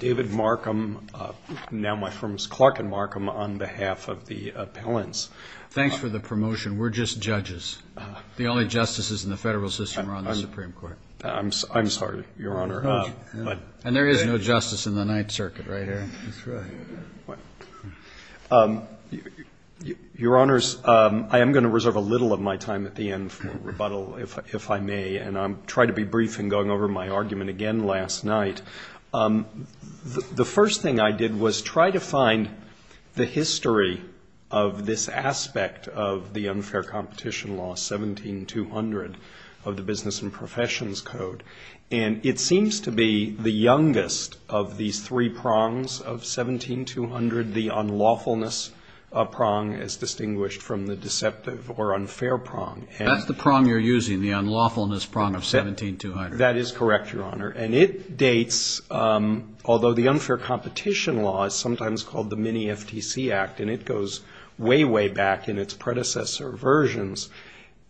David Markham, now my firm's Clark and Markham, on behalf of the appellants. Thanks for the promotion. We're just judges. The only justices in the federal system are on the Supreme Court. I'm sorry, Your Honor. And there is no justice in the Ninth Circuit, right, Aaron? Your Honors, I am going to reserve a little of my time at the end for rebuttal, if I may, and I'll try to be brief in going over my argument again last night. The first thing I did was try to find the history of this aspect of the unfair competition law, 17-200, of the Business and Professions Code. And it seems to be the youngest of these three prongs of 17-200, the unlawfulness prong, as distinguished from the deceptive or unfair prong. That's the prong you're using, the unlawfulness prong of 17-200. That is correct, Your Honor. And it dates, although the unfair competition law is sometimes called the Mini-FTC Act, and it goes way, way back in its predecessor versions,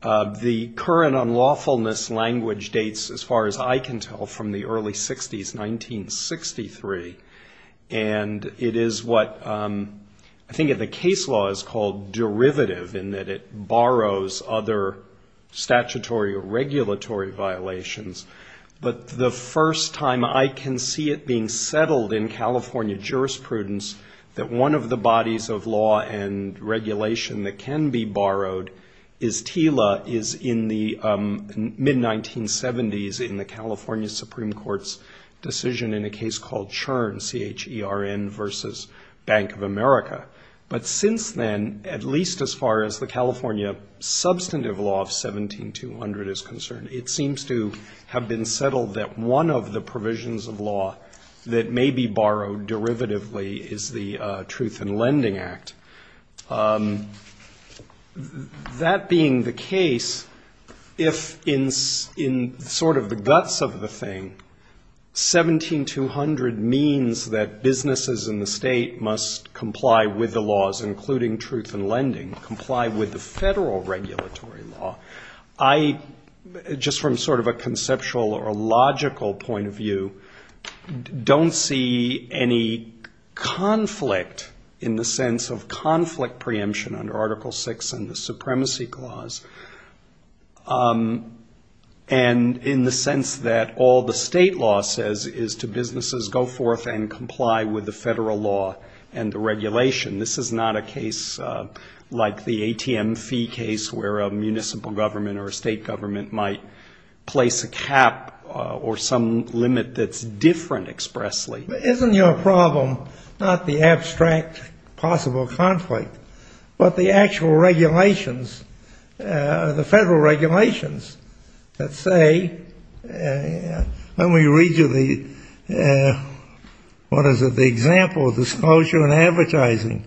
the current unlawfulness language dates, as far as I can tell, from the early 60s, 1963. And it is what I think the case law is called derivative, in that it borrows other statutory or regulatory violations. But the first time I can see it being settled in California jurisprudence that one of the bodies of law and regulation that can be borrowed is TILA, is in the mid-1970s, in the California Supreme Court's decision in a case called Churn, C-H-E-R-N, versus Bank of America. But since then, at least as far as the California substantive law of 17-200 is concerned, it seems to have been settled. That one of the provisions of law that may be borrowed derivatively is the Truth in Lending Act. That being the case, if in sort of the guts of the thing, 17-200 means that businesses in the state must comply with the laws, including truth in lending, comply with the federal regulatory law. I, just from sort of a conceptual or logical point of view, don't see any conflict in the sense of conflict preemption under Article VI and the Supremacy Clause, and in the sense that all the state law says is to businesses go forth and comply with the federal law and the regulation. This is not a case like the ATM fee case where a municipal government or a state government might place a cap or some limit that's different expressly. Isn't your problem not the abstract possible conflict, but the actual regulations, the federal regulations that say, let me read you the, what is it, the example of disclosure in advertising?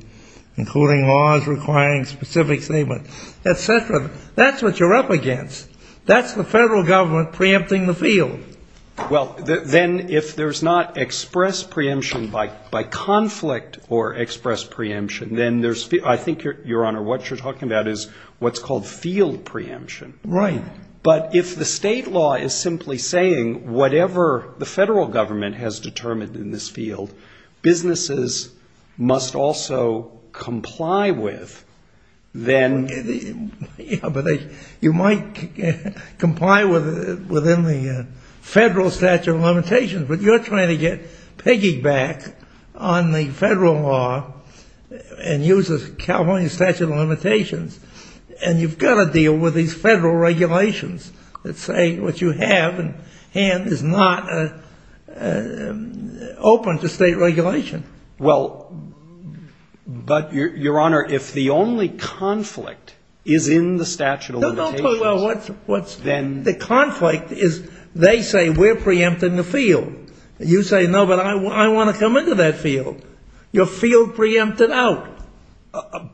Including laws requiring specific statements, et cetera. That's what you're up against. That's the federal government preempting the field. Well, then if there's not express preemption by conflict or express preemption, then there's, I think, Your Honor, what you're talking about is what's called field preemption. Right. But if the state law is simply saying whatever the federal government has determined in this field, businesses must also comply with, then... You might comply within the federal statute of limitations, but you're trying to get piggyback on the federal law and use the California statute of limitations, and you've got to deal with these federal regulations. Let's say what you have in hand is not open to state regulation. Well, but, Your Honor, if the only conflict is in the statute of limitations... No, no, but what's the conflict is they say we're preempting the field. You say, no, but I want to come into that field. Your field preempted out.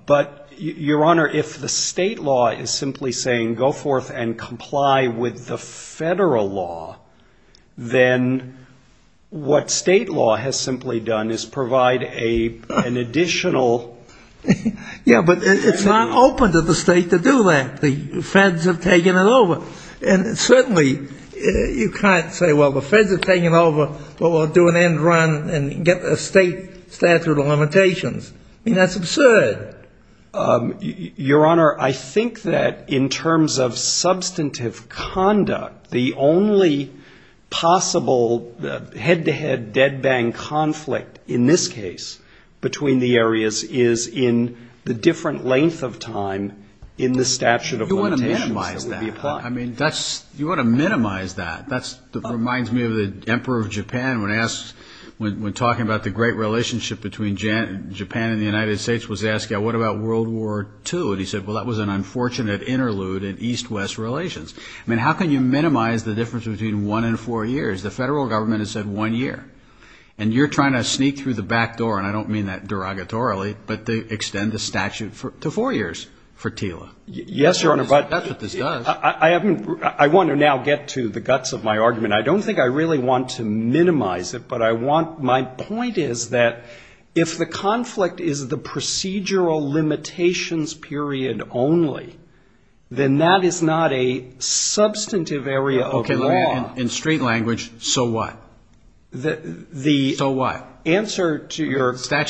But, Your Honor, if the state law is simply saying go forth and comply with the federal law, then what state law has simply done is provide an additional... Yeah, but it's not open to the state to do that. The feds have taken it over. And certainly you can't say, well, the feds have taken it over, but we'll do an end run and get a state statute of limitations. I mean, that's absurd. Your Honor, I think that in terms of substantive conduct, the only possible head-to-head dead-bang conflict in this case between the areas is in the different length of time in the statute of limitations that would be applied. You want to minimize that. That reminds me of the Emperor of Japan when talking about the great relationship between Japan and the United States was asking, what about World War II? And he said, well, that was an unfortunate interlude in East-West relations. I mean, how can you minimize the difference between one and four years? The federal government has said one year. And you're trying to sneak through the back door, and I don't mean that derogatorily, but to extend the statute to four years for TILA. I don't think I really want to minimize it, but my point is that if the conflict is the procedural limitations period only, then that is not a substantive area of law. In straight language, so what? Statute of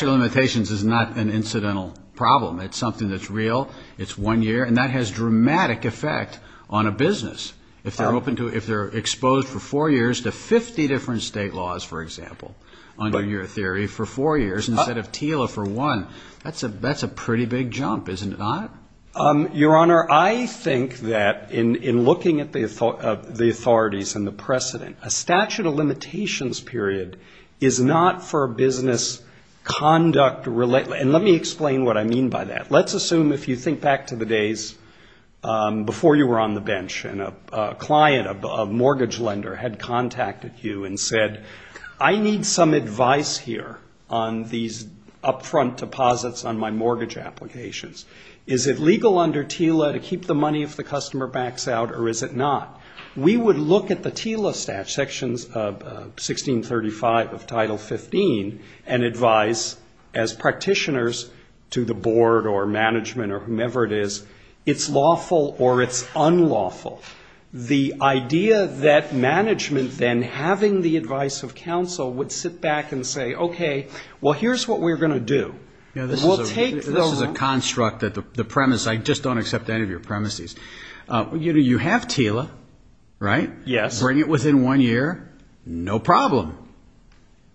limitations is not an incidental problem. It's something that's real. It's one year, and that has dramatic effect on a business. If they're exposed for four years to 50 different state laws, for example, under your theory, for four years instead of TILA for one, that's a pretty big jump, isn't it not? Your Honor, I think that in looking at the authorities and the precedent, a statute of limitations period is not for business conduct. And let me explain what I mean by that. Let's assume, if you think back to the days before you were on the bench, and a client, a mortgage lender, had contacted you and said, I need some advice here on these upfront deposits on my mortgage applications. Is it legal under TILA to keep the money if the customer backs out, or is it not? We would look at the TILA statute, Sections 1635 of Title 15, and advise, as part of the TILA Statute of Limitations, as to whether or not to keep the money. And we would say to the practitioners, to the board or management or whomever it is, it's lawful or it's unlawful. The idea that management then, having the advice of counsel, would sit back and say, okay, well, here's what we're going to do. This is a construct, the premise, I just don't accept any of your premises. You have TILA, right? Yes. Bring it within one year, no problem,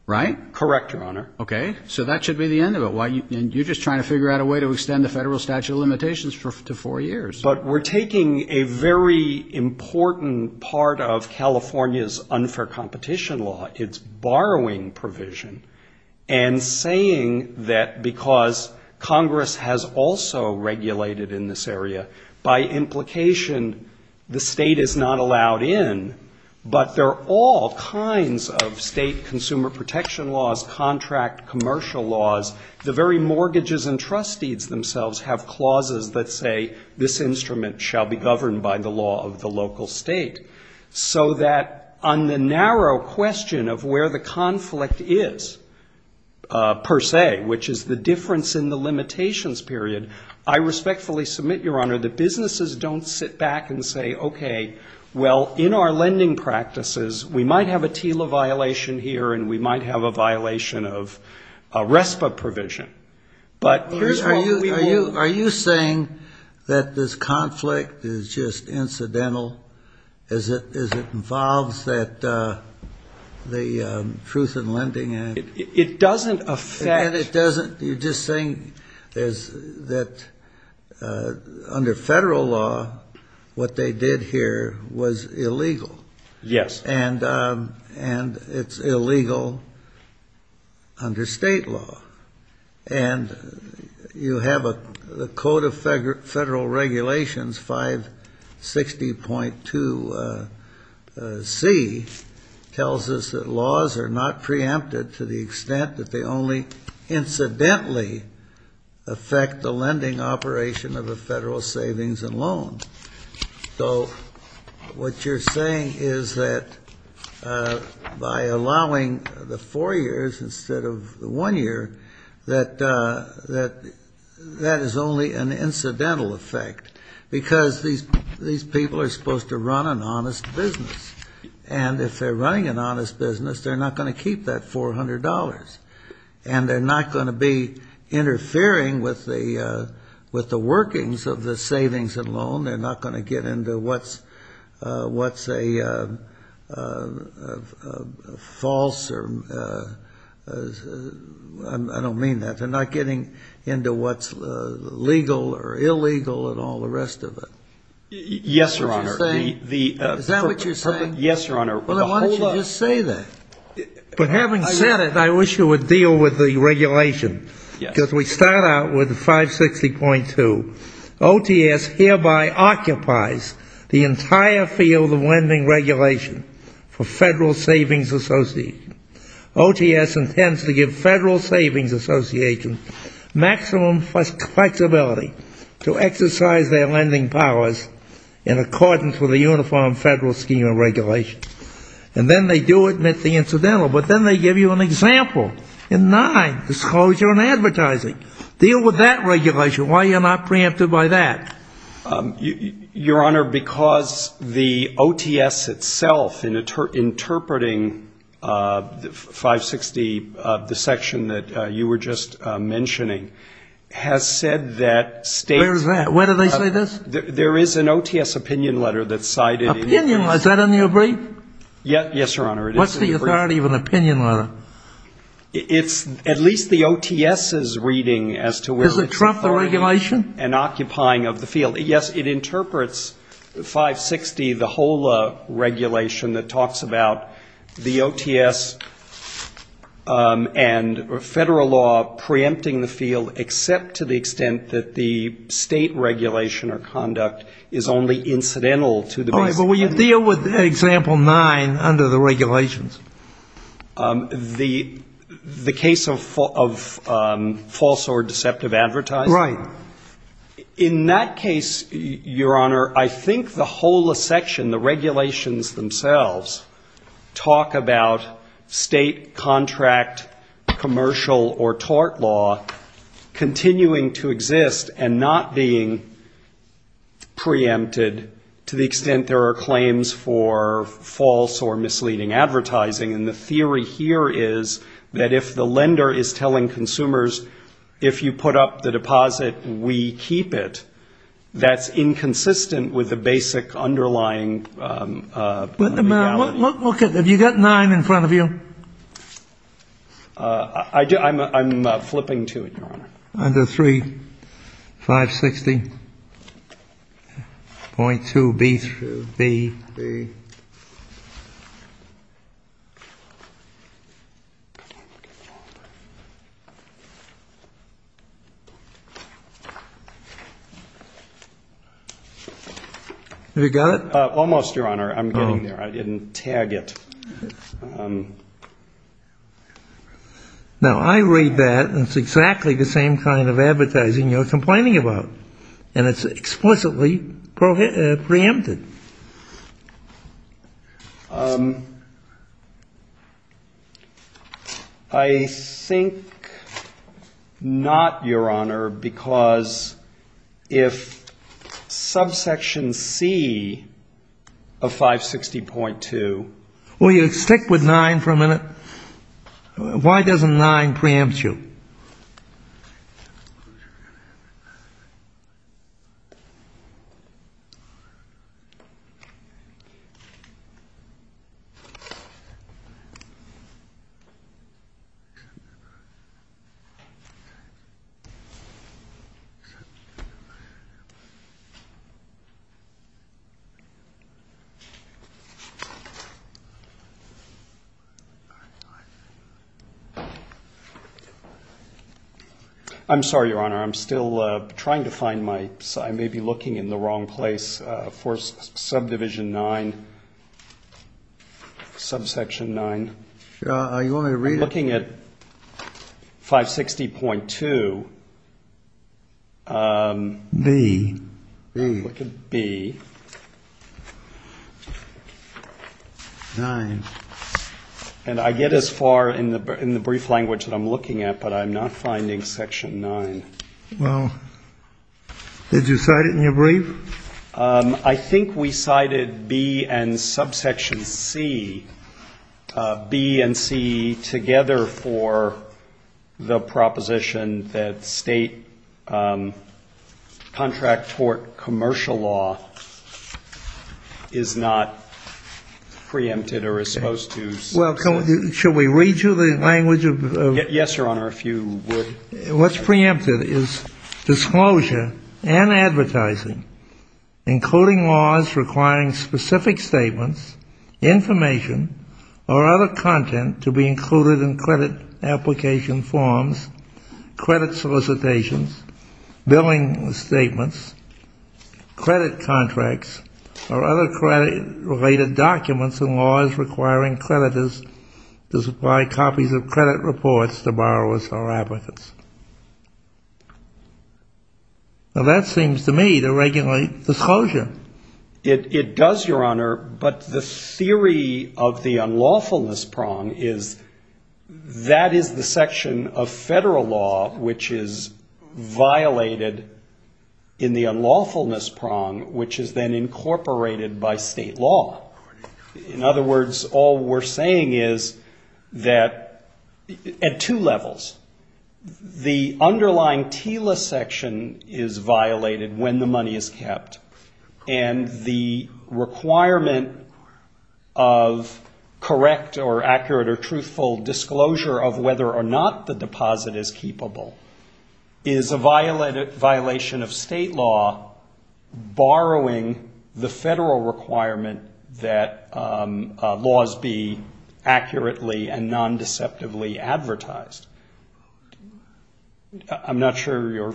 right? Correct, Your Honor. Okay, so that should be the end of it. And you're just trying to figure out a way to extend the federal statute of limitations to four years. But we're taking a very important part of California's unfair competition law, its borrowing provision, and saying that because Congress has also regulated in this area, by implication, the state is not allowed in. But there are all kinds of state consumer protection laws, contract, commercial laws. The very mortgages and trust deeds themselves have clauses that say, this instrument shall be governed by the law of the local state. So that on the narrow question of where the conflict is, per se, which is the difference in the limitations period, I respectfully submit, Your Honor, that under our lending practices, we might have a TILA violation here, and we might have a violation of a RESPA provision. But here's what we will... Are you saying that this conflict is just incidental, as it involves the Truth in Lending Act? It doesn't affect... And it doesn't... You're just saying that under federal law, what they did here was illegal. Yes. And it's illegal under state law. And you have the Code of Federal Regulations, 560.2c, tells us that laws are not preempted to the extent that they only... Incidentally affect the lending operation of a federal savings and loan. So what you're saying is that by allowing the four years instead of the one year, that that is only an incidental effect. Because these people are supposed to run an honest business. And if they're running an honest business, they're not going to keep that $400. And they're not going to be interfering with the workings of the savings and loan. They're not going to get into what's a false or... I don't mean that. They're not getting into what's legal or illegal and all the rest of it. Yes, Your Honor. Is that what you're saying? Yes, Your Honor. Well, then why don't you just say that? But having said it, I wish you would deal with the regulation. Because we start out with the 560.2. OTS hereby occupies the entire field of lending regulation for Federal Savings Association. OTS intends to give Federal Savings Association maximum flexibility to exercise their lending powers in accordance with a uniform federal scheme of regulation. And then they do admit the incidental. But then they give you an example in nine, disclosure and advertising. Deal with that regulation. Why are you not preempted by that? Your Honor, because the OTS itself in interpreting 560, the section that you were just mentioning, has said that states... Is that in your brief? Yes, Your Honor, it is in the brief. What's the authority of an opinion letter? It's at least the OTS's reading as to where it's... Does it trump the regulation? And occupying of the field. Yes, it interprets 560, the whole regulation that talks about the OTS and Federal law preempting the field, except to the extent that the state regulation or conduct is only incidental to the... All right, but will you deal with example nine under the regulations? The case of false or deceptive advertising? Right. In that case, Your Honor, I think the whole section, the regulations themselves, talk about state contract commercial or tort law continuing to exist and not being preempted to the extent there are claims for false or misleading advertising. And the theory here is that if the lender is telling consumers, if you put up the deposit, we keep it, that's inconsistent with the basic underlying reality. Have you got nine in front of you? I'm flipping to it, Your Honor. Under 3560.2B. Have you got it? Almost, Your Honor, I'm getting there, I didn't tag it. Now, I read that and it's exactly the same kind of advertising you're complaining about. And it's explicitly preempted. I think not, Your Honor, because if subsection C, under 3560.2B. Well, you stick with nine for a minute. Why doesn't nine preempt you? I'm sorry, Your Honor, I'm still trying to find my, I may be looking in the wrong place for subdivision nine, subsection nine. I'm looking at 560.2B. Nine. And I get as far in the brief language that I'm looking at, but I'm not finding section nine. Well, did you cite it in your brief? I think we cited B and subsection C, B and C together for the proposition that state contract tort commercial law. Well, should we read you the language? Yes, Your Honor, if you would. Well, that seems to me to regulate disclosure. It does, Your Honor, but the theory of the unlawfulness prong is that is the section of federal law which is violated in the unlawfulness prong, which is then incorporated by the state. In other words, all we're saying is that at two levels. The underlying TILA section is violated when the money is kept, and the requirement of correct or accurate or truthful disclosure of whether or not the deposit is keepable is a violation of state law, borrowing the federal requirement of keeping the deposit. It's a violation of the federal requirement that laws be accurately and non-deceptively advertised. I'm not sure you're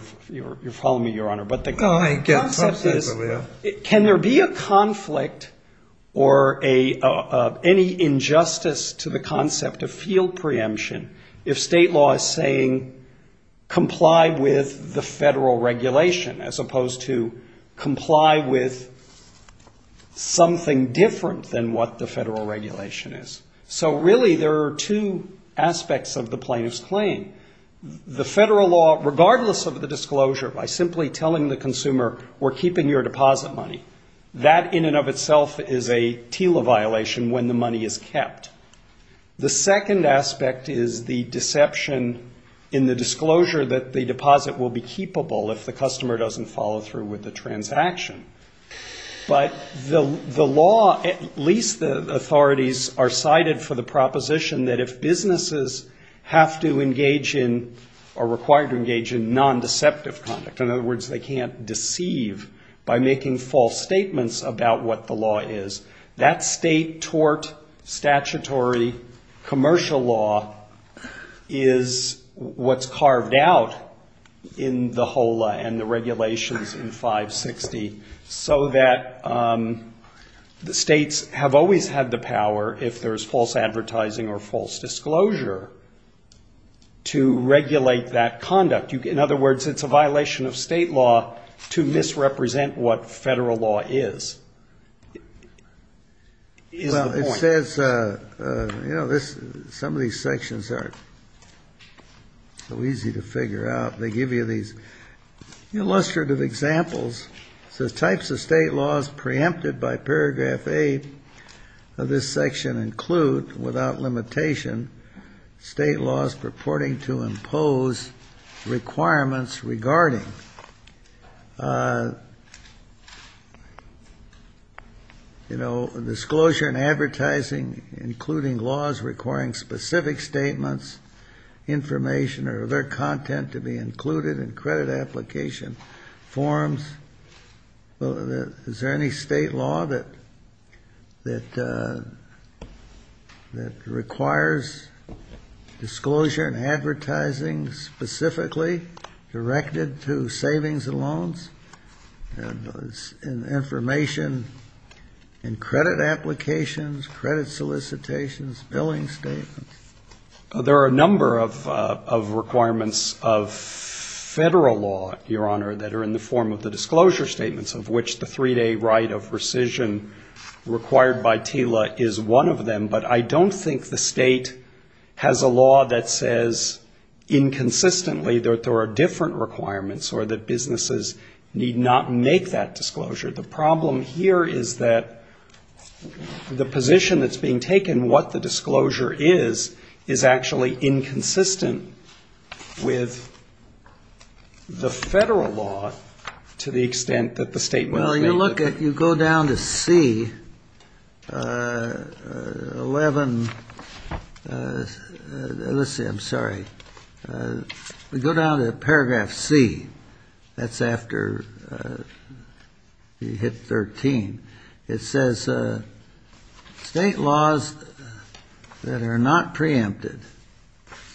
following me, Your Honor, but the concept is can there be a conflict or any injustice to the concept of field preemption if state law is saying comply with the federal regulation, as opposed to comply with state law. So really there are two aspects of the plaintiff's claim. The federal law, regardless of the disclosure, by simply telling the consumer we're keeping your deposit money, that in and of itself is a TILA violation when the money is kept. The second aspect is the deception in the disclosure that the deposit will be keepable if the customer doesn't follow through with the transaction. But the law, at least the authorities, are cited for the proposition that if businesses have to engage in or are required to engage in non-deceptive conduct, in other words, they can't deceive by making false statements about what the law is, that state tort statutory commercial law is what's carved out in the HOLA and the regulations in 560, so that states have always had the power, if there's false advertising or false disclosure, to regulate that conduct. In other words, it's a violation of state law to misrepresent what federal law is, is the point. Kennedy, Well, it says, you know, some of these sections aren't so easy to figure out. They give you these illustrative examples. It says, types of state laws preempted by paragraph 8 of this section include, without limitation, state laws purporting to impose requirements regarding, you know, disclosure and advertising, including laws requiring specific statements, information or other content to be included. And credit application forms. Is there any state law that requires disclosure and advertising specifically directed to savings and loans? And information in credit applications, credit solicitations, billing statements? There are a number of requirements of federal law, Your Honor, that are in the form of the disclosure statements, of which the three-day right of rescission required by TILA is one of them. But I don't think the state has a law that says inconsistently that there are different requirements or that businesses need not make that disclosure. The problem here is that the position that's being taken, what the disclosure is, is that it's a violation of federal law. And this is actually inconsistent with the federal law to the extent that the state will make it. Well, you look at, you go down to C, 11, let's see, I'm sorry. We go down to paragraph C. That's after you hit 13. It says state laws that are not preempted.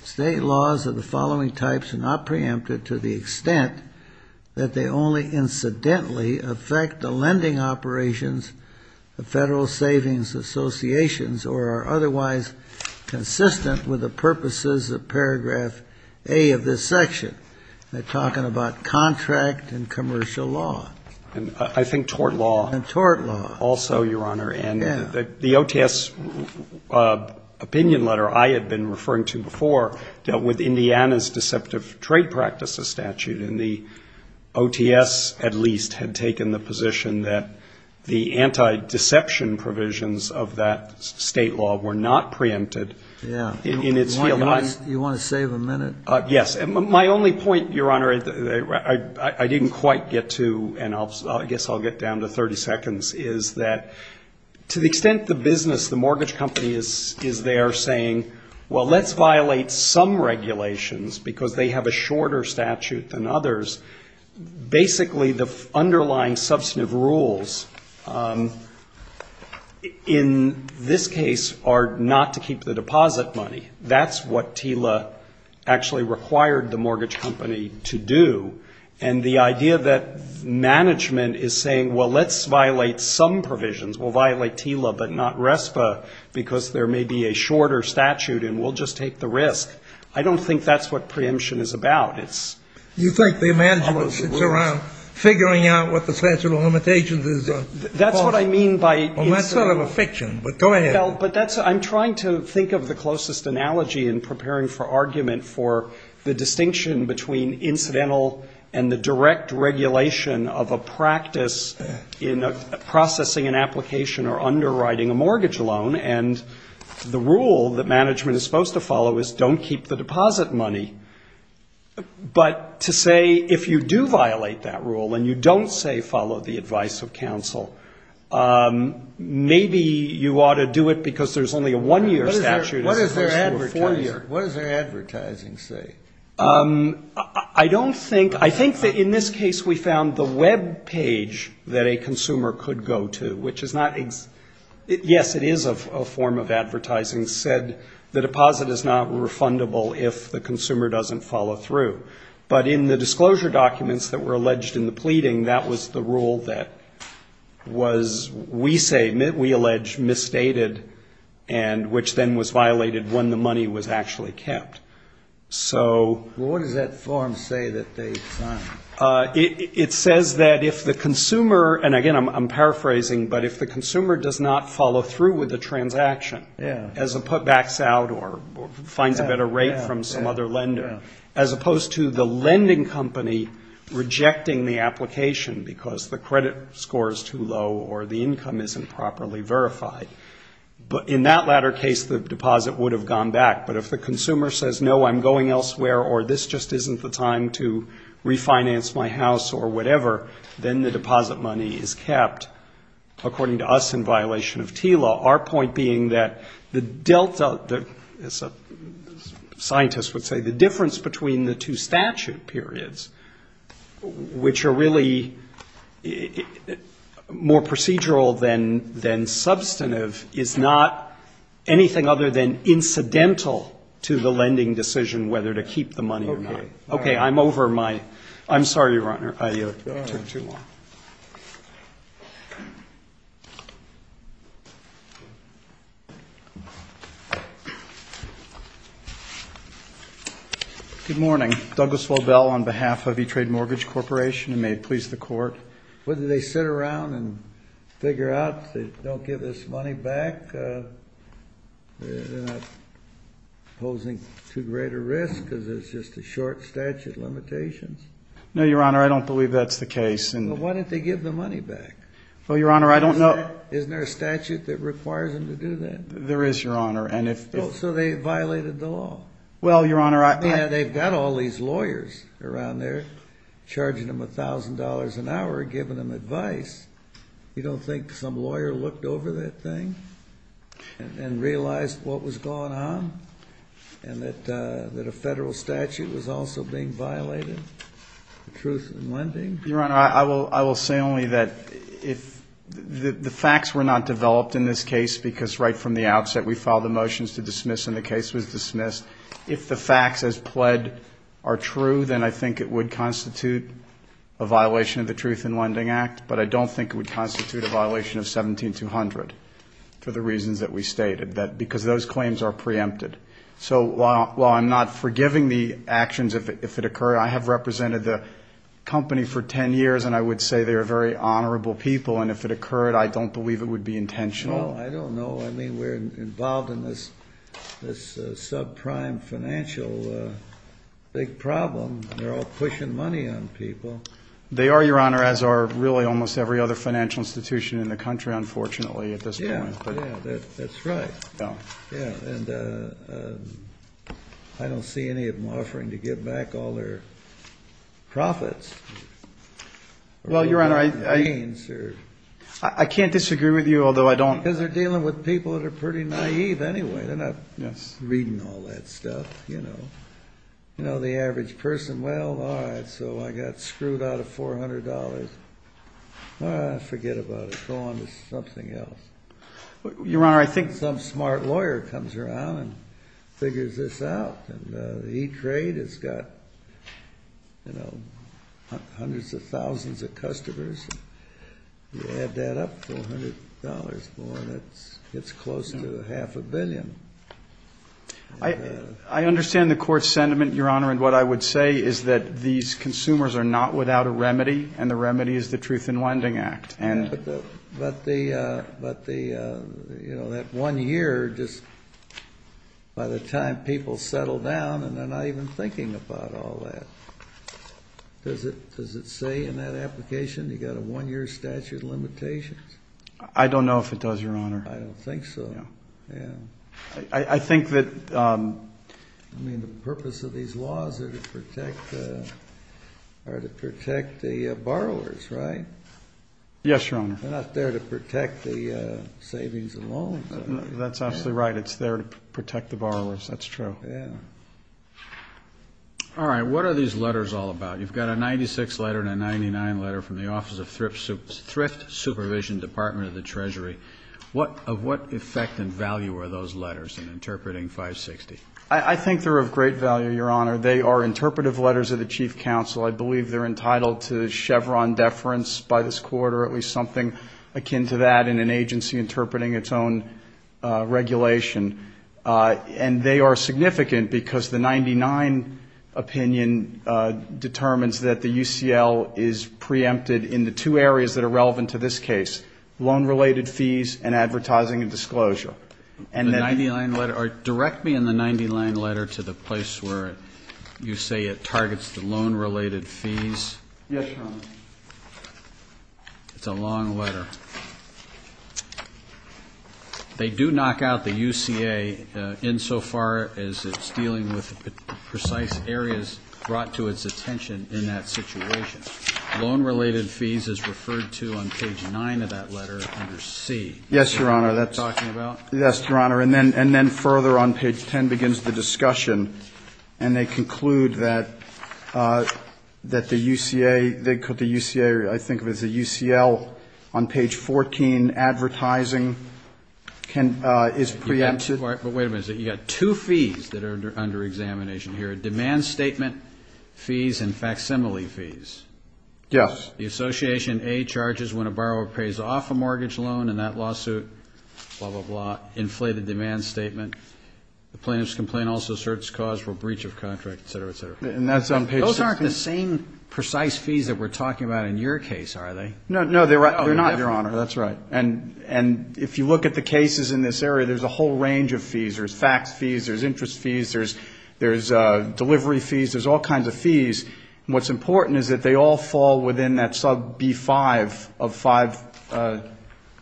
State laws of the following types are not preempted to the extent that they only incidentally affect the lending operations of federal savings associations or are otherwise consistent with the purposes of paragraph A of this section. They're talking about contract and commercial law. And I think tort law. And tort law. Also, Your Honor, and the OTS opinion letter I had been referring to before dealt with Indiana's deceptive trade practices statute. And the OTS at least had taken the position that the anti-deception provisions of that state law were not preempted in its field. Do you want to save a minute? Yes. And my only point, Your Honor, I didn't quite get to, and I guess I'll get down to 30 seconds, is that to the extent the business, the mortgage company is there saying, well, let's violate some regulations because they have a shorter statute than others, basically the underlying substantive rules in this case are not to keep the deposit money. That's what TILA actually required the mortgage company to do. And the idea that management is saying, well, let's violate some provisions. We'll violate TILA, but not RESPA because there may be a shorter statute and we'll just take the risk. I don't think that's what preemption is about. It's all those rules. You think the management sits around figuring out what the statute of limitations is? That's what I mean by the institution. Well, that's sort of a fiction, but go ahead. Well, but that's what I'm trying to think of the closest analogy in preparing for argument for the distinction between incidental and the direct regulation of a practice in processing an application or underwriting a mortgage loan. And the rule that management is supposed to follow is don't keep the deposit money. But to say if you do violate that rule and you don't say follow the advice of counsel, maybe you ought to do it because there's only a one-year statute as opposed to a four-year. What does their advertising say? I don't think — I think that in this case we found the web page that a consumer could go to, which is not — yes, it is a form of advertising that said the deposit is not refundable if the consumer doesn't follow through. But in the disclosure documents that were alleged in the pleading, that was the rule that was, we say, we allege, misstated, and which then was violated when the money was actually kept. So — Well, what does that form say that they signed? It says that if the consumer — and, again, I'm paraphrasing, but if the consumer does not follow through with the transaction — Yeah. — as a putbacks out or finds a better rate from some other lender, as opposed to the lending company rejecting the application because the credit score is too low or the income isn't properly verified. In that latter case, the deposit would have gone back. But if the consumer says, no, I'm going elsewhere, or this just isn't the time to refinance my house or whatever, then the deposit money is kept, according to us, in violation of TILA. Our point being that the delta — as a scientist would say, the difference between the two statute periods, which are really more procedural than substantive, is not anything other than incidental to the lending decision whether to keep the money or not. Okay. Okay, I'm over my — I'm sorry, Your Honor, I took too long. Thank you. Good morning. Douglas Lobel on behalf of E-Trade Mortgage Corporation, and may it please the Court. Whether they sit around and figure out they don't give this money back, they're not posing too great a risk because it's just a short statute limitation. No, Your Honor, I don't believe that's the case. Well, why didn't they give the money back? Well, Your Honor, I don't know — Isn't there a statute that requires them to do that? There is, Your Honor, and if — So they violated the law. Well, Your Honor, I — I mean, they've got all these lawyers around there charging them $1,000 an hour, giving them advice. You don't think some lawyer looked over that thing and realized what was going on and that a federal statute was also being violated for truth in lending? Your Honor, I will say only that if — the facts were not developed in this case because right from the outset we filed the motions to dismiss and the case was dismissed. If the facts as pled are true, then I think it would constitute a violation of the Truth in Lending Act, but I don't think it would constitute a violation of 17-200 for the reasons that we stated, because those claims are preempted. So while I'm not forgiving the actions if it occurred, I have represented the company for 10 years and I would say they are very honorable people, and if it occurred, I don't believe it would be intentional. Well, I don't know. I mean, we're involved in this subprime financial big problem. They're all pushing money on people. They are, Your Honor, as are really almost every other financial institution in the country, unfortunately, at this point. Yeah, yeah, that's right. Yeah, and I don't see any of them offering to give back all their profits. Well, Your Honor, I can't disagree with you, although I don't — Because they're dealing with people that are pretty naive anyway. They're not reading all that stuff, you know. You know, the average person, well, all right, so I got screwed out of $400. Forget about it. Go on to something else. Your Honor, I think — Some smart lawyer comes around and figures this out, and E-Trade has got, you know, hundreds of thousands of customers. You add that up to $100 more, and it's close to half a billion. I understand the court's sentiment, Your Honor, and what I would say is that these consumers are not without a remedy, and the remedy is the Truth in Lending Act. But, you know, that one year, just by the time people settle down, and they're not even thinking about all that. Does it say in that application you've got a one-year statute of limitations? I don't know if it does, Your Honor. I don't think so. Yeah. I think that — I mean, the purpose of these laws are to protect the borrowers, right? Yes, Your Honor. They're not there to protect the savings and loans. That's absolutely right. It's there to protect the borrowers. That's true. Yeah. All right. What are these letters all about? You've got a 96 letter and a 99 letter from the Office of Thrift Supervision, Department of the Treasury. Of what effect and value are those letters in interpreting 560? I think they're of great value, Your Honor. They are interpretive letters of the Chief Counsel. I believe they're entitled to Chevron deference by this Court, or at least something akin to that in an agency interpreting its own regulation. And they are significant because the 99 opinion determines that the UCL is preempted in the two areas that are relevant to this case, loan-related fees and advertising and disclosure. The 99 letter? Direct me in the 99 letter to the place where you say it targets the loan-related fees. Yes, Your Honor. It's a long letter. They do knock out the UCA insofar as it's dealing with precise areas brought to its attention in that situation. Loan-related fees is referred to on page 9 of that letter under C. Yes, Your Honor. That's what you're talking about? Yes, Your Honor. And then further on page 10 begins the discussion, and they conclude that the UCA or I think it was the UCL on page 14 advertising is preempted. But wait a minute. You've got two fees that are under examination here, demand statement fees and facsimile fees. Yes. The association A charges when a borrower pays off a mortgage loan in that lawsuit, blah, blah, blah, inflated demand statement. The plaintiff's complaint also asserts cause for breach of contract, et cetera, et cetera. And that's on page 16. Those aren't the same precise fees that we're talking about in your case, are they? No, they're not, Your Honor. Oh, they're not. That's right. And if you look at the cases in this area, there's a whole range of fees. There's fax fees. There's interest fees. There's delivery fees. There's all kinds of fees. And what's important is that they all fall within that sub B5 of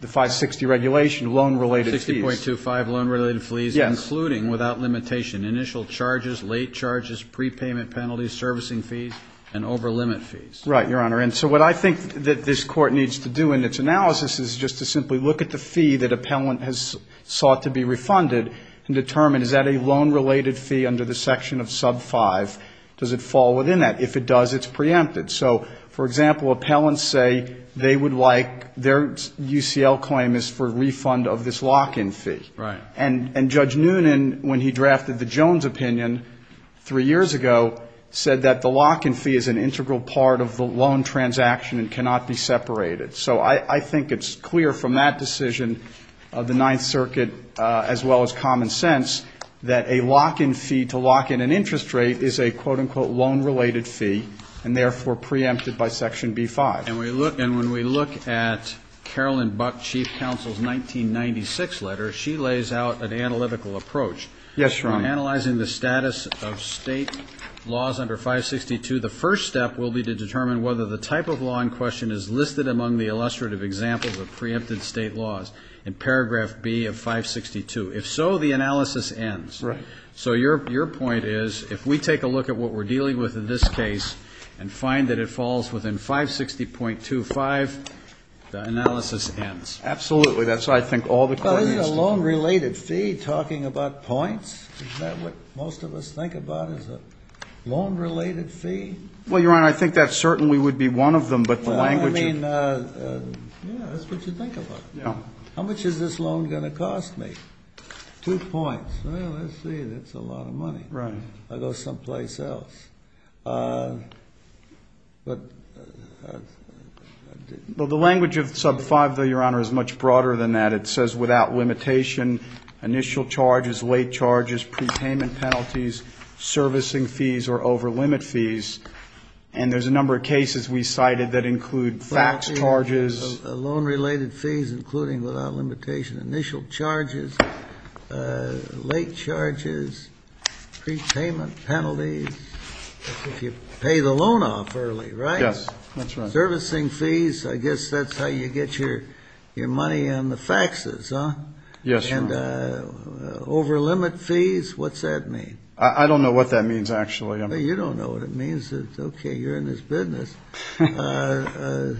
the 560 regulation, loan-related fees. 60.25, loan-related fees. Yes. Including, without limitation, initial charges, late charges, prepayment penalties, servicing fees, and over-limit fees. Right, Your Honor. And so what I think that this Court needs to do in its analysis is just to simply look at the fee that appellant has sought to be refunded and determine, is that a loan-related fee under the section of sub 5? Does it fall within that? If it does, it's preempted. So, for example, appellants say they would like their UCL claim is for refund of this lock-in fee. Right. And Judge Noonan, when he drafted the Jones opinion three years ago, said that the lock-in fee is an integral part of the loan transaction and cannot be separated. So I think it's clear from that decision of the Ninth Circuit, as well as common sense, that a lock-in fee to lock in an interest rate is a, quote-unquote, loan-related fee, and therefore preempted by section B5. And when we look at Carolyn Buck, Chief Counsel's 1996 letter, she lays out an analytical approach. Yes, Your Honor. From analyzing the status of state laws under 562, the first step will be to determine whether the type of law in question is listed among the illustrative examples of preempted state laws in paragraph B of 562. If so, the analysis ends. Right. So your point is, if we take a look at what we're dealing with in this case and find that it falls within 560.25, the analysis ends. Absolutely. That's what I think all the court needs to do. Isn't a loan-related fee talking about points? Isn't that what most of us think about, is a loan-related fee? Well, Your Honor, I think that certainly would be one of them, but the language of the... I mean, yeah, that's what you think about. Yeah. How much is this loan going to cost me? Two points. Well, let's see. That's a lot of money. Right. I'll go someplace else. But... Well, the language of sub 5, though, Your Honor, is much broader than that. It says without limitation, initial charges, late charges, prepayment penalties, servicing fees, or over-limit fees. And there's a number of cases we cited that include fax charges. Loan-related fees, including without limitation, initial charges, late charges, prepayment penalties. If you pay the loan off early, right? Yes. That's right. Yes, Your Honor. And over-limit fees, what's that mean? I don't know what that means, actually. You don't know what it means? Okay, you're in this business. So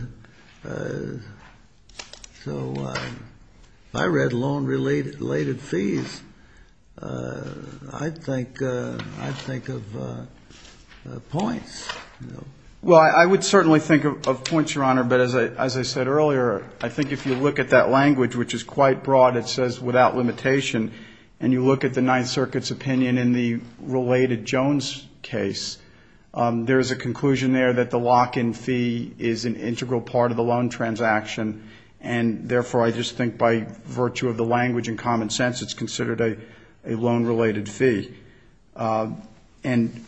if I read loan-related fees, I'd think of points. Well, I would certainly think of points, Your Honor. But as I said earlier, I think if you look at that language, which is quite broad, it says without limitation, and you look at the Ninth Circuit's opinion in the related Jones case, there is a conclusion there that the lock-in fee is an integral part of the loan transaction. And therefore, I just think by virtue of the language and common sense, it's considered a loan-related fee. And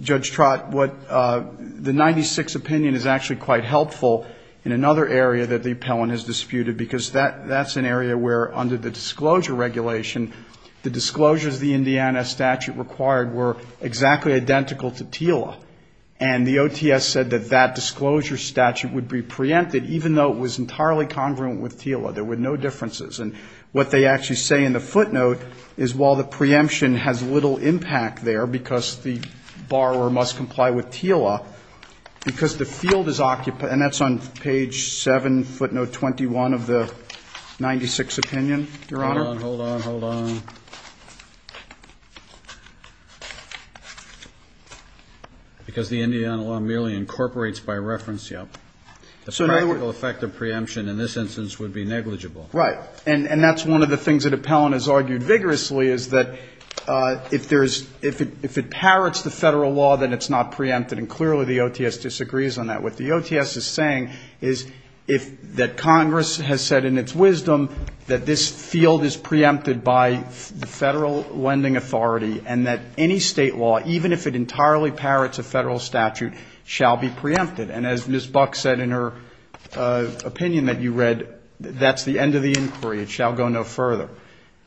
Judge Trott, the 96 opinion is actually quite helpful in another area that the appellant has disputed, because that's an area where under the disclosure regulation, the disclosures the Indiana statute required were exactly identical to TILA. And the OTS said that that disclosure statute would be preempted, even though it was entirely congruent with TILA. There were no differences. And what they actually say in the footnote is while the preemption has little impact there because the borrower must comply with TILA, because the field is occupied, and that's on page 7, footnote 21 of the 96 opinion, Your Honor. Hold on, hold on, hold on. Because the Indiana law merely incorporates by reference. Yep. The practical effect of preemption in this instance would be negligible. Right. And that's one of the things that appellant has argued vigorously is that if there's – if it parrots the Federal law, then it's not preempted. And clearly the OTS disagrees on that. What the OTS is saying is that Congress has said in its wisdom that this field is preempted by the Federal lending authority and that any State law, even if it entirely parrots a Federal statute, shall be preempted. And as Ms. Buck said in her opinion that you read, that's the end of the inquiry. It shall go no further.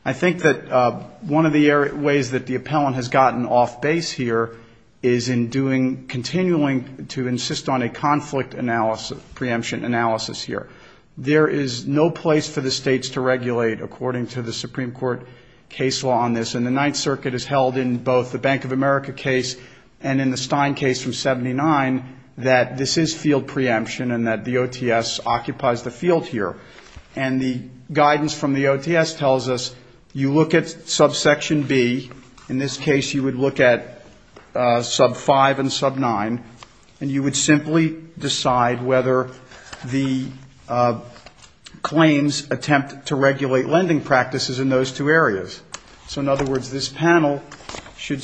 I think that one of the ways that the appellant has gotten off base here is in doing – continuing to insist on a conflict analysis – preemption analysis here. There is no place for the States to regulate according to the Supreme Court case law on this. And the Ninth Circuit has held in both the Bank of America case and in the Stein case from 79 that this is field preemption and that the OTS occupies the field here. And the guidance from the OTS tells us you look at subsection B, in this case you would look at sub-5 and sub-9, and you would simply decide whether the claims attempt to regulate lending practices in those two areas. So, in other words, this panel should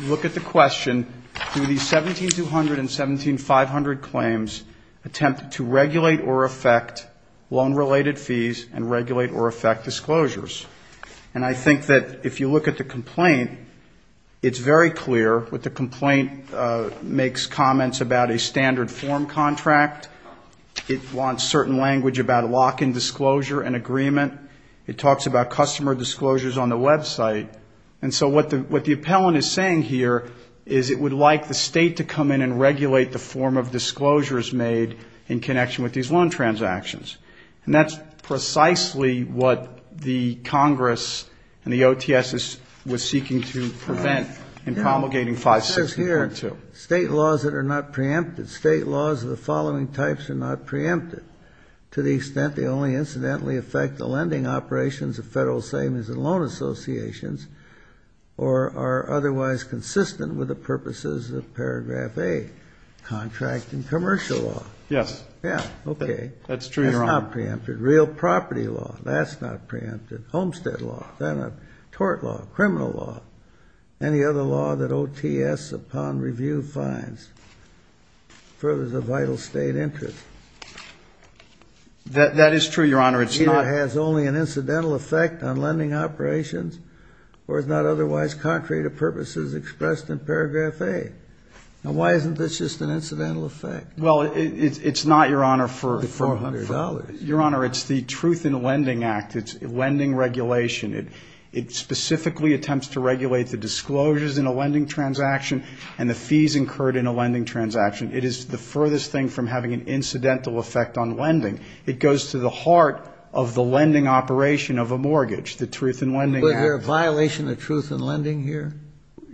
look at the question, do these 17200 and 17500 claims attempt to regulate or affect loan-related fees and regulate or affect disclosures? And I think that if you look at the complaint, it's very clear. The complaint makes comments about a standard form contract. It wants certain language about lock-in disclosure and agreement. It talks about customer disclosures on the website. And so what the appellant is saying here is it would like the State to come in and regulate the form of disclosures made in connection with these loan transactions. And that's precisely what the Congress and the OTS was seeking to prevent in promulgating 560.2. State laws that are not preempted. State laws of the following types are not preempted, to the extent they only incidentally affect the lending operations of Federal Savings and Loan Associations or are otherwise consistent with the purposes of paragraph A, contract and commercial law. Yes. Yeah, okay. That's true, Your Honor. That's not preempted. Real property law, that's not preempted. Homestead law, that's not preempted. Tort law, criminal law, any other law that OTS upon review finds furthers a vital State interest. That is true, Your Honor. It's not. It has only an incidental effect on lending operations or is not otherwise contrary to purposes expressed in paragraph A. Now, why isn't this just an incidental effect? Well, it's not, Your Honor, for $400. Your Honor, it's the Truth in Lending Act. It's lending regulation. It specifically attempts to regulate the disclosures in a lending transaction and the fees incurred in a lending transaction. It is the furthest thing from having an incidental effect on lending. It goes to the heart of the lending operation of a mortgage, the Truth in Lending Act. Is there a violation of Truth in Lending here?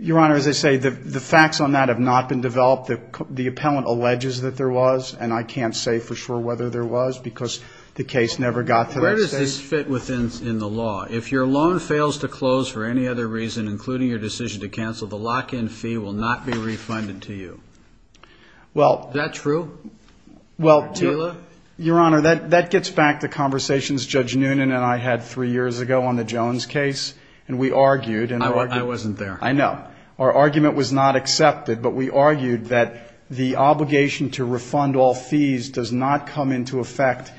Your Honor, as I say, the facts on that have not been developed. The appellant alleges that there was, and I can't say for sure whether there was because the case never got to that stage. Where does this fit within the law? If your loan fails to close for any other reason, including your decision to cancel, the lock-in fee will not be refunded to you. Is that true? Well, Your Honor, that gets back to conversations Judge Noonan and I had three years ago on the Jones case, and we argued. I wasn't there. I know. Our argument was not accepted, but we argued that the obligation to refund all fees does not come into effect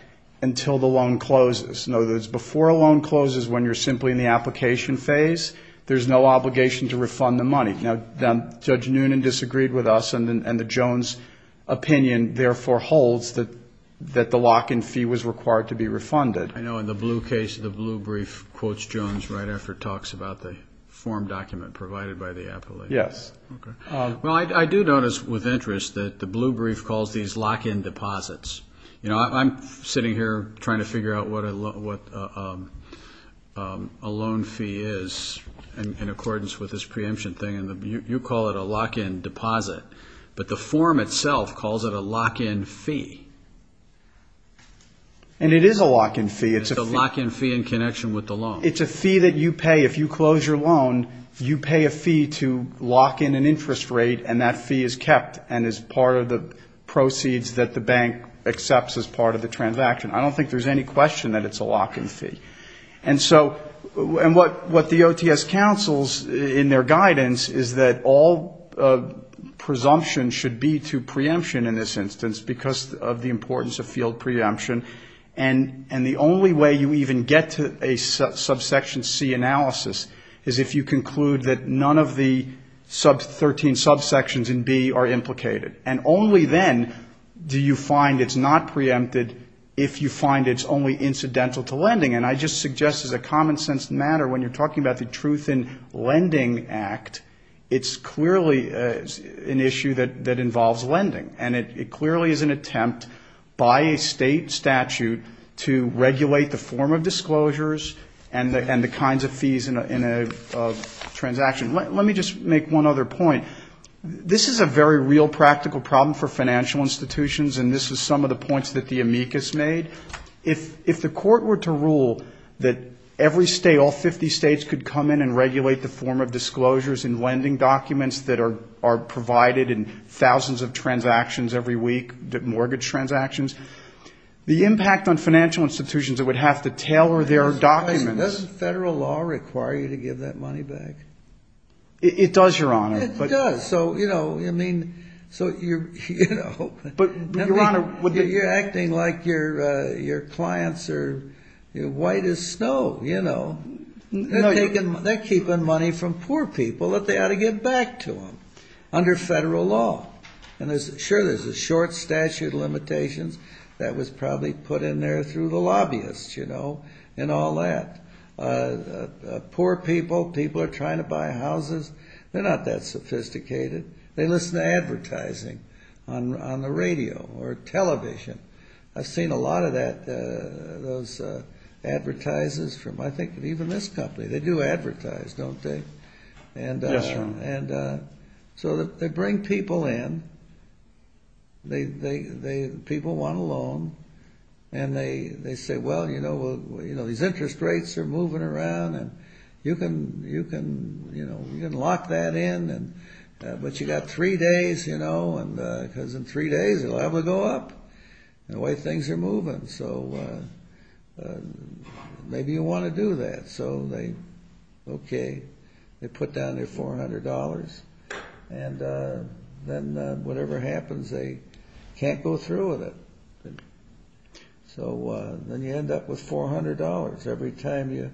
until the loan closes. In other words, before a loan closes, when you're simply in the application phase, there's no obligation to refund the money. Now, Judge Noonan disagreed with us, and the Jones opinion therefore holds that the lock-in fee was required to be refunded. I know in the Blue case, the Blue brief quotes Jones right after it talks about the form document provided by the appellant. Yes. Okay. Well, I do notice with interest that the Blue brief calls these lock-in deposits. I'm sitting here trying to figure out what a loan fee is in accordance with this preemption thing, and you call it a lock-in deposit, but the form itself calls it a lock-in fee. And it is a lock-in fee. It's a lock-in fee in connection with the loan. It's a fee that you pay if you close your loan. You pay a fee to lock in an interest rate, and that fee is kept and is part of the proceeds that the bank accepts as part of the transaction. I don't think there's any question that it's a lock-in fee. And so what the OTS counsels in their guidance is that all presumption should be to preemption in this instance because of the importance of field preemption. And the only way you even get to a subsection C analysis is if you conclude that none of the 13 subsections in B are implicated. And only then do you find it's not preempted if you find it's only incidental to lending. And I just suggest as a common-sense matter, when you're talking about the Truth in Lending Act, it's clearly an issue that involves lending. And it clearly is an attempt by a state statute to regulate the form of disclosures and the kinds of fees in a transaction. Let me just make one other point. This is a very real practical problem for financial institutions, and this is some of the points that the amicus made. If the court were to rule that every state, all 50 states, could come in and regulate the form of disclosures in lending documents that are provided in thousands of transactions every week, mortgage transactions, the impact on financial institutions, it would have to tailor their documents. Doesn't federal law require you to give that money back? It does, Your Honor. It does. So you're acting like your clients are white as snow. They're keeping money from poor people that they ought to give back to them under federal law. And sure, there's a short statute of limitations that was probably put in there through the lobbyists and all that. Poor people, people are trying to buy houses. They're not that sophisticated. They listen to advertising on the radio or television. I've seen a lot of those advertises from I think even this company. They do advertise, don't they? Yes, Your Honor. So they bring people in. People want a loan. And they say, well, you know, these interest rates are moving around. You can lock that in. But you've got three days, you know, because in three days it'll have to go up. The way things are moving. So maybe you want to do that. Okay. They put down their $400. And then whatever happens, they can't go through with it. So then you end up with $400 every time you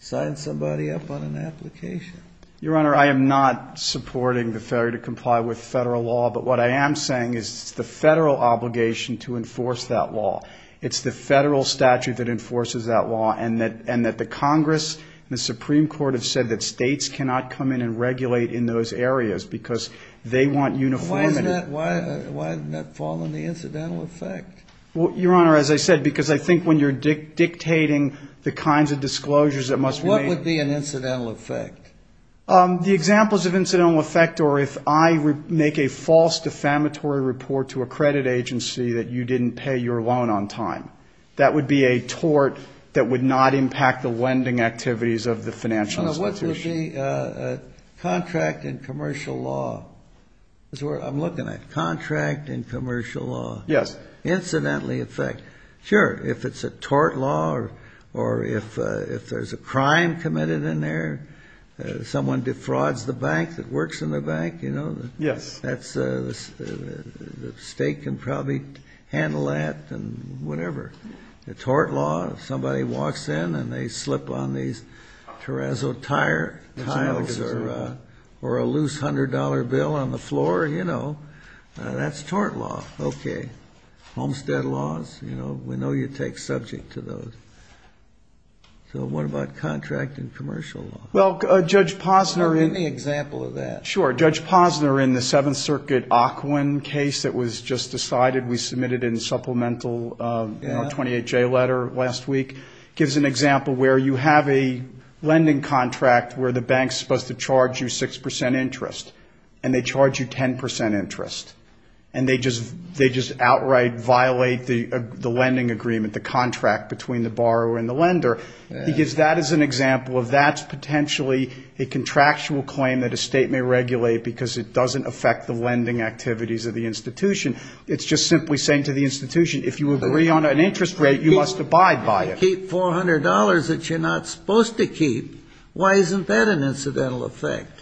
sign somebody up on an application. Your Honor, I am not supporting the failure to comply with federal law. But what I am saying is it's the federal obligation to enforce that law. It's the federal statute that enforces that law. And that the Congress and the Supreme Court have said that states cannot come in and regulate in those areas because they want uniformity. Why doesn't that fall under the incidental effect? Well, Your Honor, as I said, because I think when you're dictating the kinds of disclosures that must be made. What would be an incidental effect? The examples of incidental effect are if I make a false defamatory report to a credit agency that you didn't pay your loan on time. That would be a tort that would not impact the lending activities of the financial institution. Your Honor, what would be a contract in commercial law? I'm looking at contract in commercial law. Yes. Incidental effect. Sure, if it's a tort law or if there's a crime committed in there, someone defrauds the bank that works in the bank, you know. Yes. That's the state can probably handle that and whatever. A tort law, if somebody walks in and they slip on these terrazzo tire tiles or a loose $100 bill on the floor, you know, that's tort law. Okay. Homestead laws, you know, we know you take subject to those. So what about contract in commercial law? Well, Judge Posner in the example of that. Sure, Judge Posner in the Seventh Circuit Ocwen case that was just decided, we submitted in supplemental 28J letter last week, gives an example where you have a lending contract where the bank's supposed to charge you 6% interest and they charge you 10% interest and they just outright violate the lending agreement, the contract between the borrower and the lender. He gives that as an example of that's potentially a contractual claim that a state may regulate because it doesn't affect the lending activities of the institution. It's just simply saying to the institution, if you agree on an interest rate, you must abide by it. Keep $400 that you're not supposed to keep. Why isn't that an incidental effect?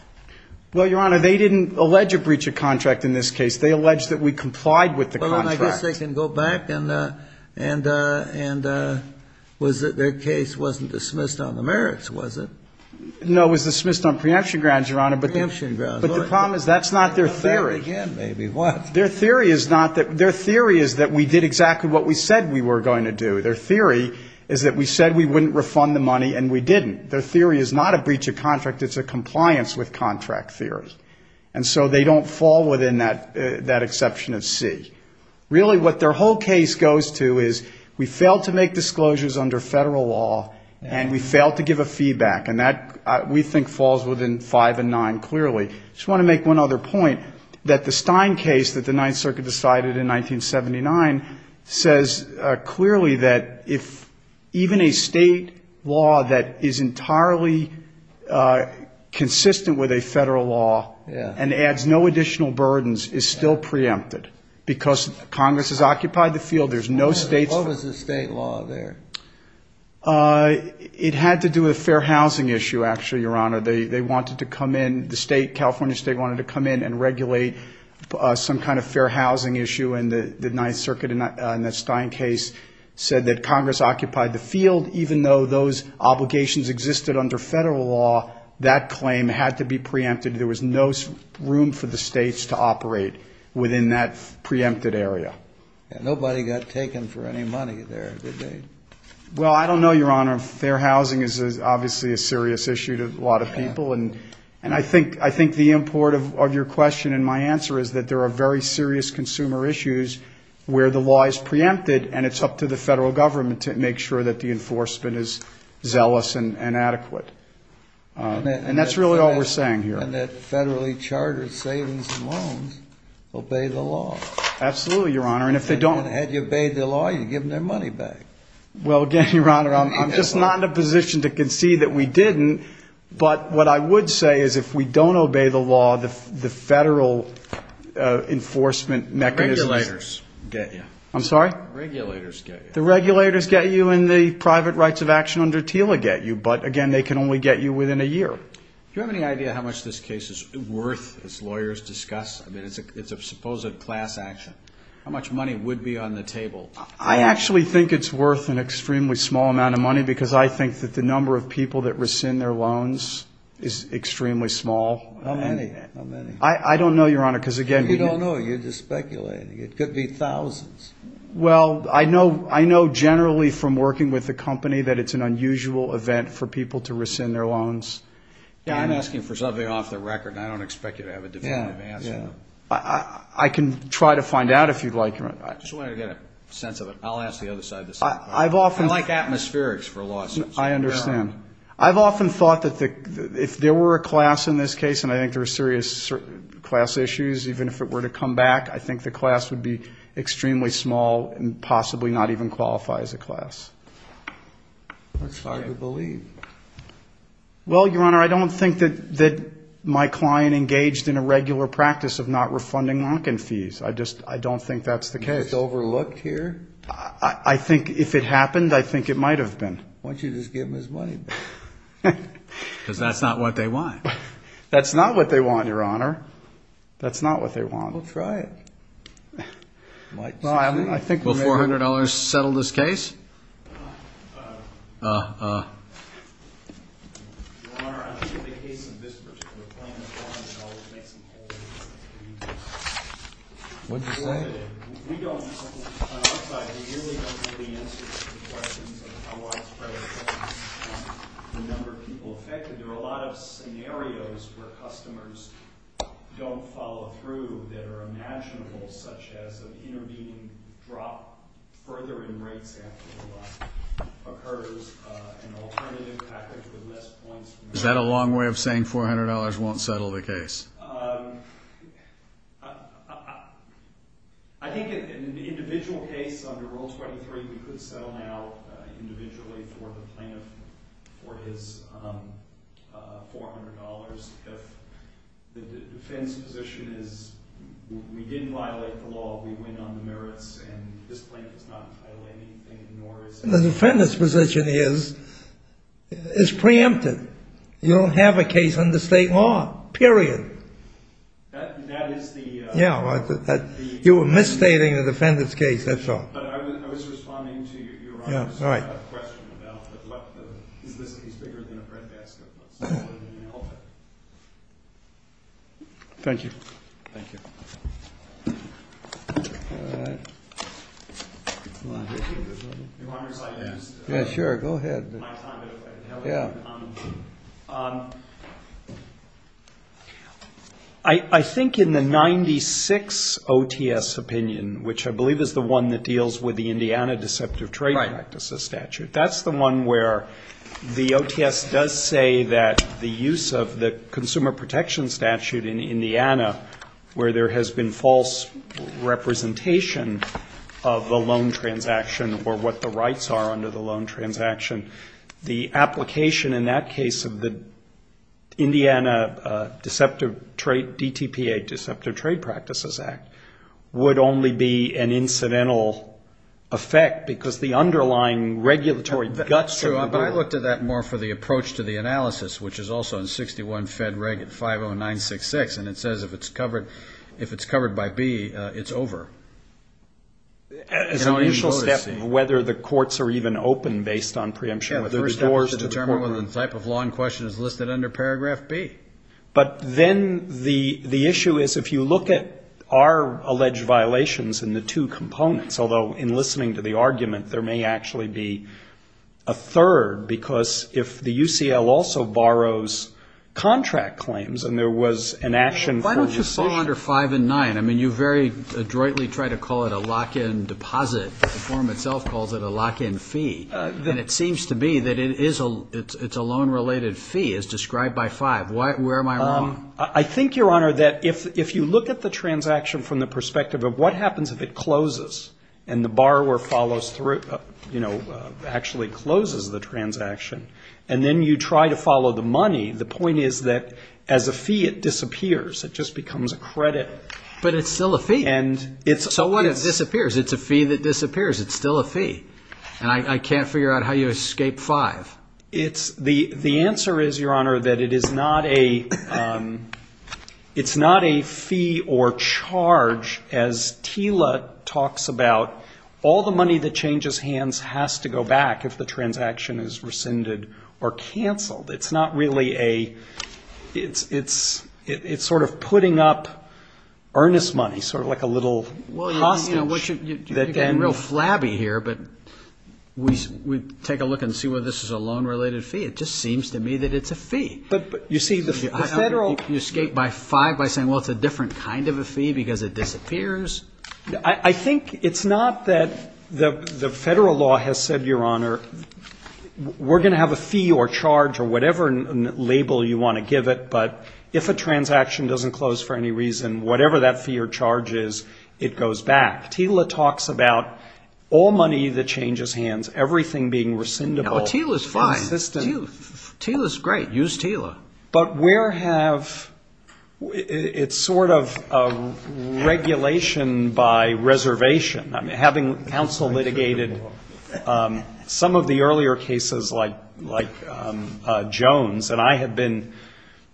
Well, Your Honor, they didn't allege a breach of contract in this case. They alleged that we complied with the contract. And their case wasn't dismissed on the merits, was it? No, it was dismissed on preemption grounds, Your Honor. Preemption grounds. But the problem is that's not their theory. Their theory is that we did exactly what we said we were going to do. Their theory is that we said we wouldn't refund the money and we didn't. Their theory is not a breach of contract. It's a compliance with contract theory. And so they don't fall within that exception of C. Really, what their whole case goes to is we failed to make disclosures under federal law and we failed to give a feedback, and that, we think, falls within 5 and 9 clearly. I just want to make one other point, that the Stein case that the Ninth Circuit decided in 1979 says clearly that if even a state law that is entirely consistent with a federal law and adds no additional burdens is still preempted because Congress has occupied the field. What was the state law there? It had to do with a fair housing issue, actually, Your Honor. They wanted to come in, the California state wanted to come in and regulate some kind of fair housing issue, and the Ninth Circuit in that Stein case said that Congress occupied the field. Even though those obligations existed under federal law, that claim had to be preempted. There was no room for the states to operate within that preempted area. Nobody got taken for any money there, did they? Well, I don't know, Your Honor. Fair housing is obviously a serious issue to a lot of people, and I think the import of your question and my answer is that there are very serious consumer issues where the law is preempted and it's up to the federal government to make sure that the enforcement is zealous and adequate. And that's really all we're saying here. And that federally chartered savings and loans obey the law. Absolutely, Your Honor. And had you obeyed the law, you'd have given their money back. Well, again, Your Honor, I'm just not in a position to concede that we didn't, but what I would say is if we don't obey the law, the federal enforcement mechanisms... Regulators get you. I'm sorry? Regulators get you. The regulators get you and the private rights of action under TILA get you, but, again, they can only get you within a year. Do you have any idea how much this case is worth, as lawyers discuss? I mean, it's a supposed class action. How much money would be on the table? I actually think it's worth an extremely small amount of money because I think that the number of people that rescind their loans is extremely small. How many? I don't know, Your Honor, because, again... You don't know. You're just speculating. It could be thousands. Well, I know generally from working with the company that it's an unusual event for people to rescind their loans. I'm asking for something off the record, and I don't expect you to have a definitive answer. I can try to find out if you'd like. I just wanted to get a sense of it. I'll ask the other side the same thing. I like atmospherics for lawsuits. I understand. I've often thought that if there were a class in this case, and I think there are serious class issues, even if it were to come back, I think the class would be extremely small and possibly not even qualify as a class. That's hard to believe. Well, Your Honor, I don't think that my client engaged in a regular practice of not refunding lock-in fees. I don't think that's the case. Are you just overlooked here? I think if it happened, I think it might have been. Why don't you just give him his money back? Because that's not what they want. That's not what they want, Your Honor. That's not what they want. I'll try it. Will $400 settle this case? Your Honor, I think in the case of this particular claim, the $400 makes them whole. What did you say? We don't, on our side, we really don't have the answers to the questions of how widespread it is. The number of people affected, there are a lot of scenarios where customers don't follow through that are imaginable, such as an intervening drop further in rates after the line occurs, an alternative package with less points. Is that a long way of saying $400 won't settle the case? I think in the individual case under Rule 23, we could settle now individually for the plaintiff for his $400 if the defendant's position is we didn't violate the law, we went on the merits, and this plaintiff is not entitled to anything. The defendant's position is it's preempted. You don't have a case under state law, period. That is the… You were misstating the defendant's case, that's all. But I was responding to your honor's question about what the, is this case bigger than a breadbasket? Thank you. Thank you. Your honor's side asked. Yeah, sure, go ahead. I think in the 96 OTS opinion, which I believe is the one that deals with the Indiana Deceptive Trade Practices Statute, that's the one where the OTS does say that the use of the Consumer Protection Statute in Indiana, where there has been false representation of the loan transaction or what the rights are under the loan transaction, the application in that case of the Indiana Deceptive Trade, Deceptive Trade Practices Act, would only be an incidental effect because the underlying regulatory guts. True, but I looked at that more for the approach to the analysis, which is also in 61 Fed Reg 50966, and it says if it's covered by B, it's over. As an initial step, whether the courts are even open based on preemption. Yeah, the first step is to determine whether the type of law in question is listed under paragraph B. But then the issue is, if you look at our alleged violations in the two components, although in listening to the argument, there may actually be a third, because if the UCL also borrows contract claims and there was an action. Why don't you fall under five and nine? I mean, you very adroitly try to call it a lock-in deposit. The form itself calls it a lock-in fee, and it seems to be that it's a loan-related fee. I think, Your Honor, that if you look at the transaction from the perspective of what happens if it closes and the borrower actually closes the transaction, and then you try to follow the money, the point is that as a fee it disappears. It just becomes a credit. But it's still a fee. So what if it disappears? It's a fee that disappears. It's still a fee, and I can't figure out how you escape five. The answer is, Your Honor, that it is not a fee or charge. As Tila talks about, all the money that changes hands has to go back if the transaction is rescinded or canceled. It's not really a ‑‑ it's sort of putting up earnest money, sort of like a little hostage. You're getting real flabby here, but we take a look and see whether this is a loan-related fee. It just seems to me that it's a fee. But, you see, the federal ‑‑ You escape by five by saying, well, it's a different kind of a fee because it disappears. I think it's not that the federal law has said, Your Honor, we're going to have a fee or charge or whatever label you want to give it, but if a transaction doesn't close for any reason, whatever that fee or charge is, it goes back. Tila talks about all money that changes hands, everything being rescindable. Tila's fine. Tila's great. Use Tila. But where have ‑‑ it's sort of regulation by reservation. Having counsel litigated some of the earlier cases like Jones, and I have been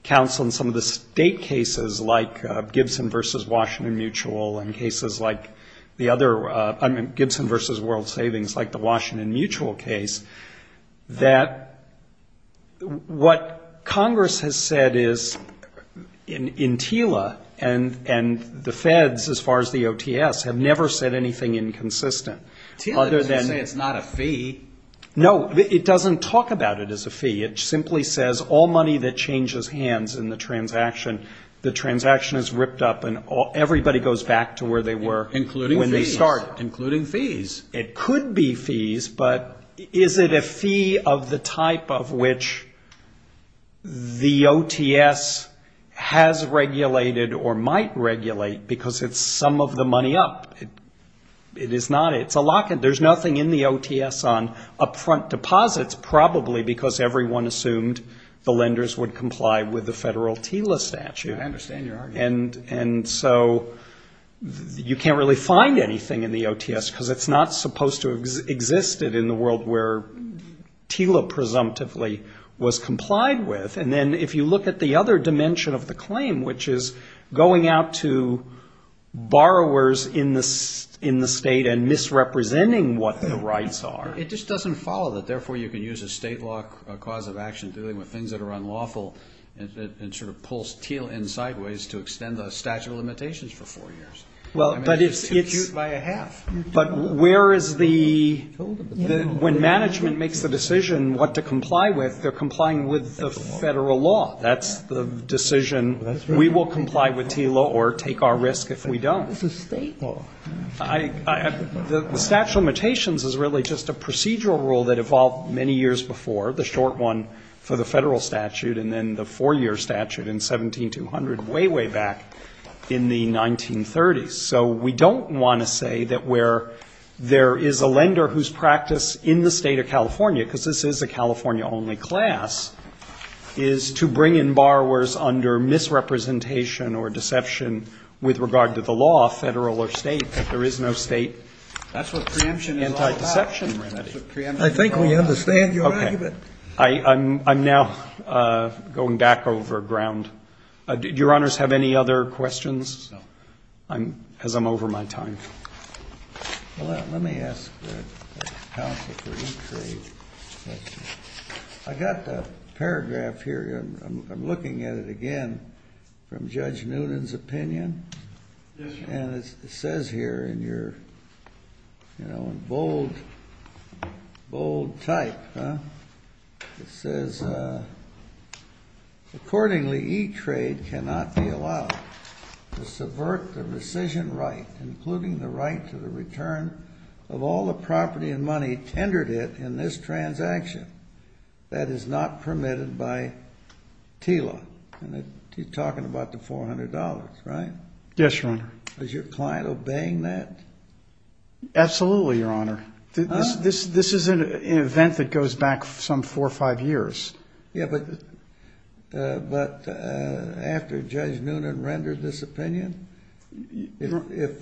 counsel in some of the state cases like Gibson v. Washington Mutual and cases like the other ‑‑ I mean Gibson v. World Savings like the Washington Mutual case, that what Congress has said is in Tila and the feds as far as the OTS have never said anything inconsistent. Tila doesn't say it's not a fee. No, it doesn't talk about it as a fee. It simply says all money that changes hands in the transaction, the transaction is ripped up, and everybody goes back to where they were when they start. Including fees. Including fees. It could be fees, but is it a fee of the type of which the OTS has regulated or might regulate because it's some of the money up? It is not. It's a lock‑in. There's nothing in the OTS on up‑front deposits, probably because everyone assumed the lenders would comply with the federal Tila statute. I understand your argument. And so you can't really find anything in the OTS because it's not supposed to have existed in the world where Tila presumptively was complied with. And then if you look at the other dimension of the claim, which is going out to borrowers in the state and misrepresenting what their rights are. It just doesn't follow that, therefore, you can use a state law cause of action dealing with things that are unlawful and sort of pulls Tila in sideways to extend the statute of limitations for four years. But where is the ‑‑ when management makes the decision what to comply with, they're complying with the federal law. That's the decision. We will comply with Tila or take our risk if we don't. It's a state law. The statute of limitations is really just a procedural rule that evolved many years before. The short one for the federal statute and then the four‑year statute in 17200, way, way back in the 1930s. So we don't want to say that where there is a lender whose practice in the State of California, because this is a California‑only class, is to bring in borrowers under misrepresentation or deception with regard to the law, federal or state, that there is no state anti‑deception remedy. I think we understand your argument. Okay. I'm now going back over ground. Do your honors have any other questions? No. Because I'm over my time. Well, let me ask the counsel for e‑trade a question. I got the paragraph here. Yes, sir. And it says here in your bold type, it says, accordingly, e‑trade cannot be allowed to subvert the rescission right, including the right to the return of all the property and money tendered it in this transaction. That is not permitted by TILA. And he's talking about the $400, right? Yes, your honor. Is your client obeying that? Absolutely, your honor. This is an event that goes back some four or five years. Yeah, but after Judge Noonan rendered this opinion, if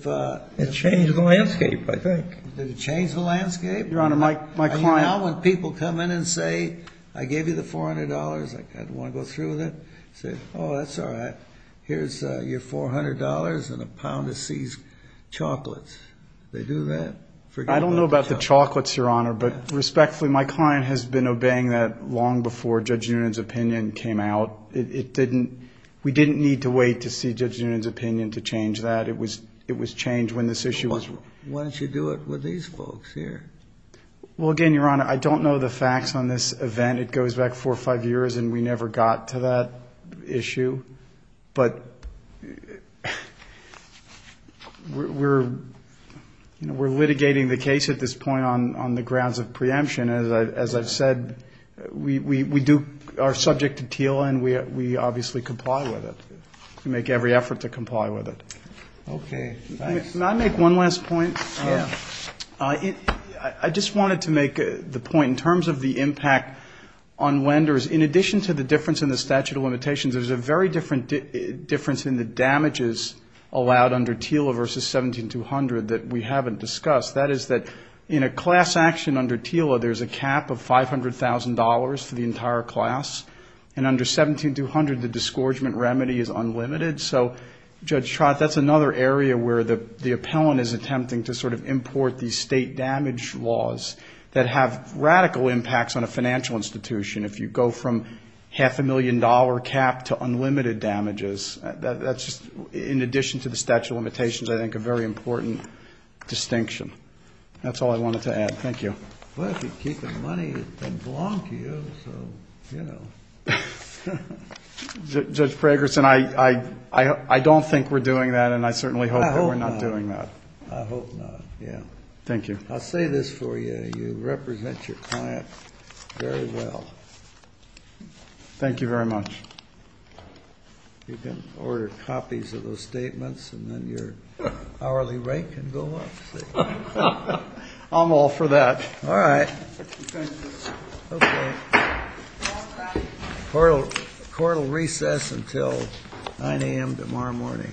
‑‑ It changed the landscape, I think. Did it change the landscape? Your honor, my client ‑‑ You know when people come in and say, I gave you the $400, I don't want to go through with it. Oh, that's all right. Here's your $400 and a pound of C's chocolates. They do that? I don't know about the chocolates, your honor, but respectfully my client has been obeying that long before Judge Noonan's opinion came out. We didn't need to wait to see Judge Noonan's opinion to change that. It was changed when this issue was ‑‑ Why don't you do it with these folks here? Well, again, your honor, I don't know the facts on this event. It goes back four or five years and we never got to that issue. But we're litigating the case at this point on the grounds of preemption. As I've said, we are subject to TILA and we obviously comply with it. We make every effort to comply with it. Okay. Can I make one last point? Yeah. I just wanted to make the point in terms of the impact on lenders. In addition to the difference in the statute of limitations, there's a very different difference in the damages allowed under TILA versus 17200 that we haven't discussed. That is that in a class action under TILA, there's a cap of $500,000 for the entire class, and under 17200 the disgorgement remedy is unlimited. So, Judge Trott, that's another area where the appellant is attempting to sort of import these state damage laws that have radical impacts on a financial institution. If you go from half a million dollar cap to unlimited damages, that's just in addition to the statute of limitations, I think a very important distinction. That's all I wanted to add. Thank you. Well, if you keep the money, it doesn't belong to you, so, you know. Judge Fragerson, I don't think we're doing that and I certainly hope that we're not doing that. I hope not, yeah. Thank you. I'll say this for you. You represent your client very well. Thank you very much. You can order copies of those statements and then your hourly rate can go up. I'm all for that. All right. Court will recess until 9 a.m. tomorrow morning. Thank you.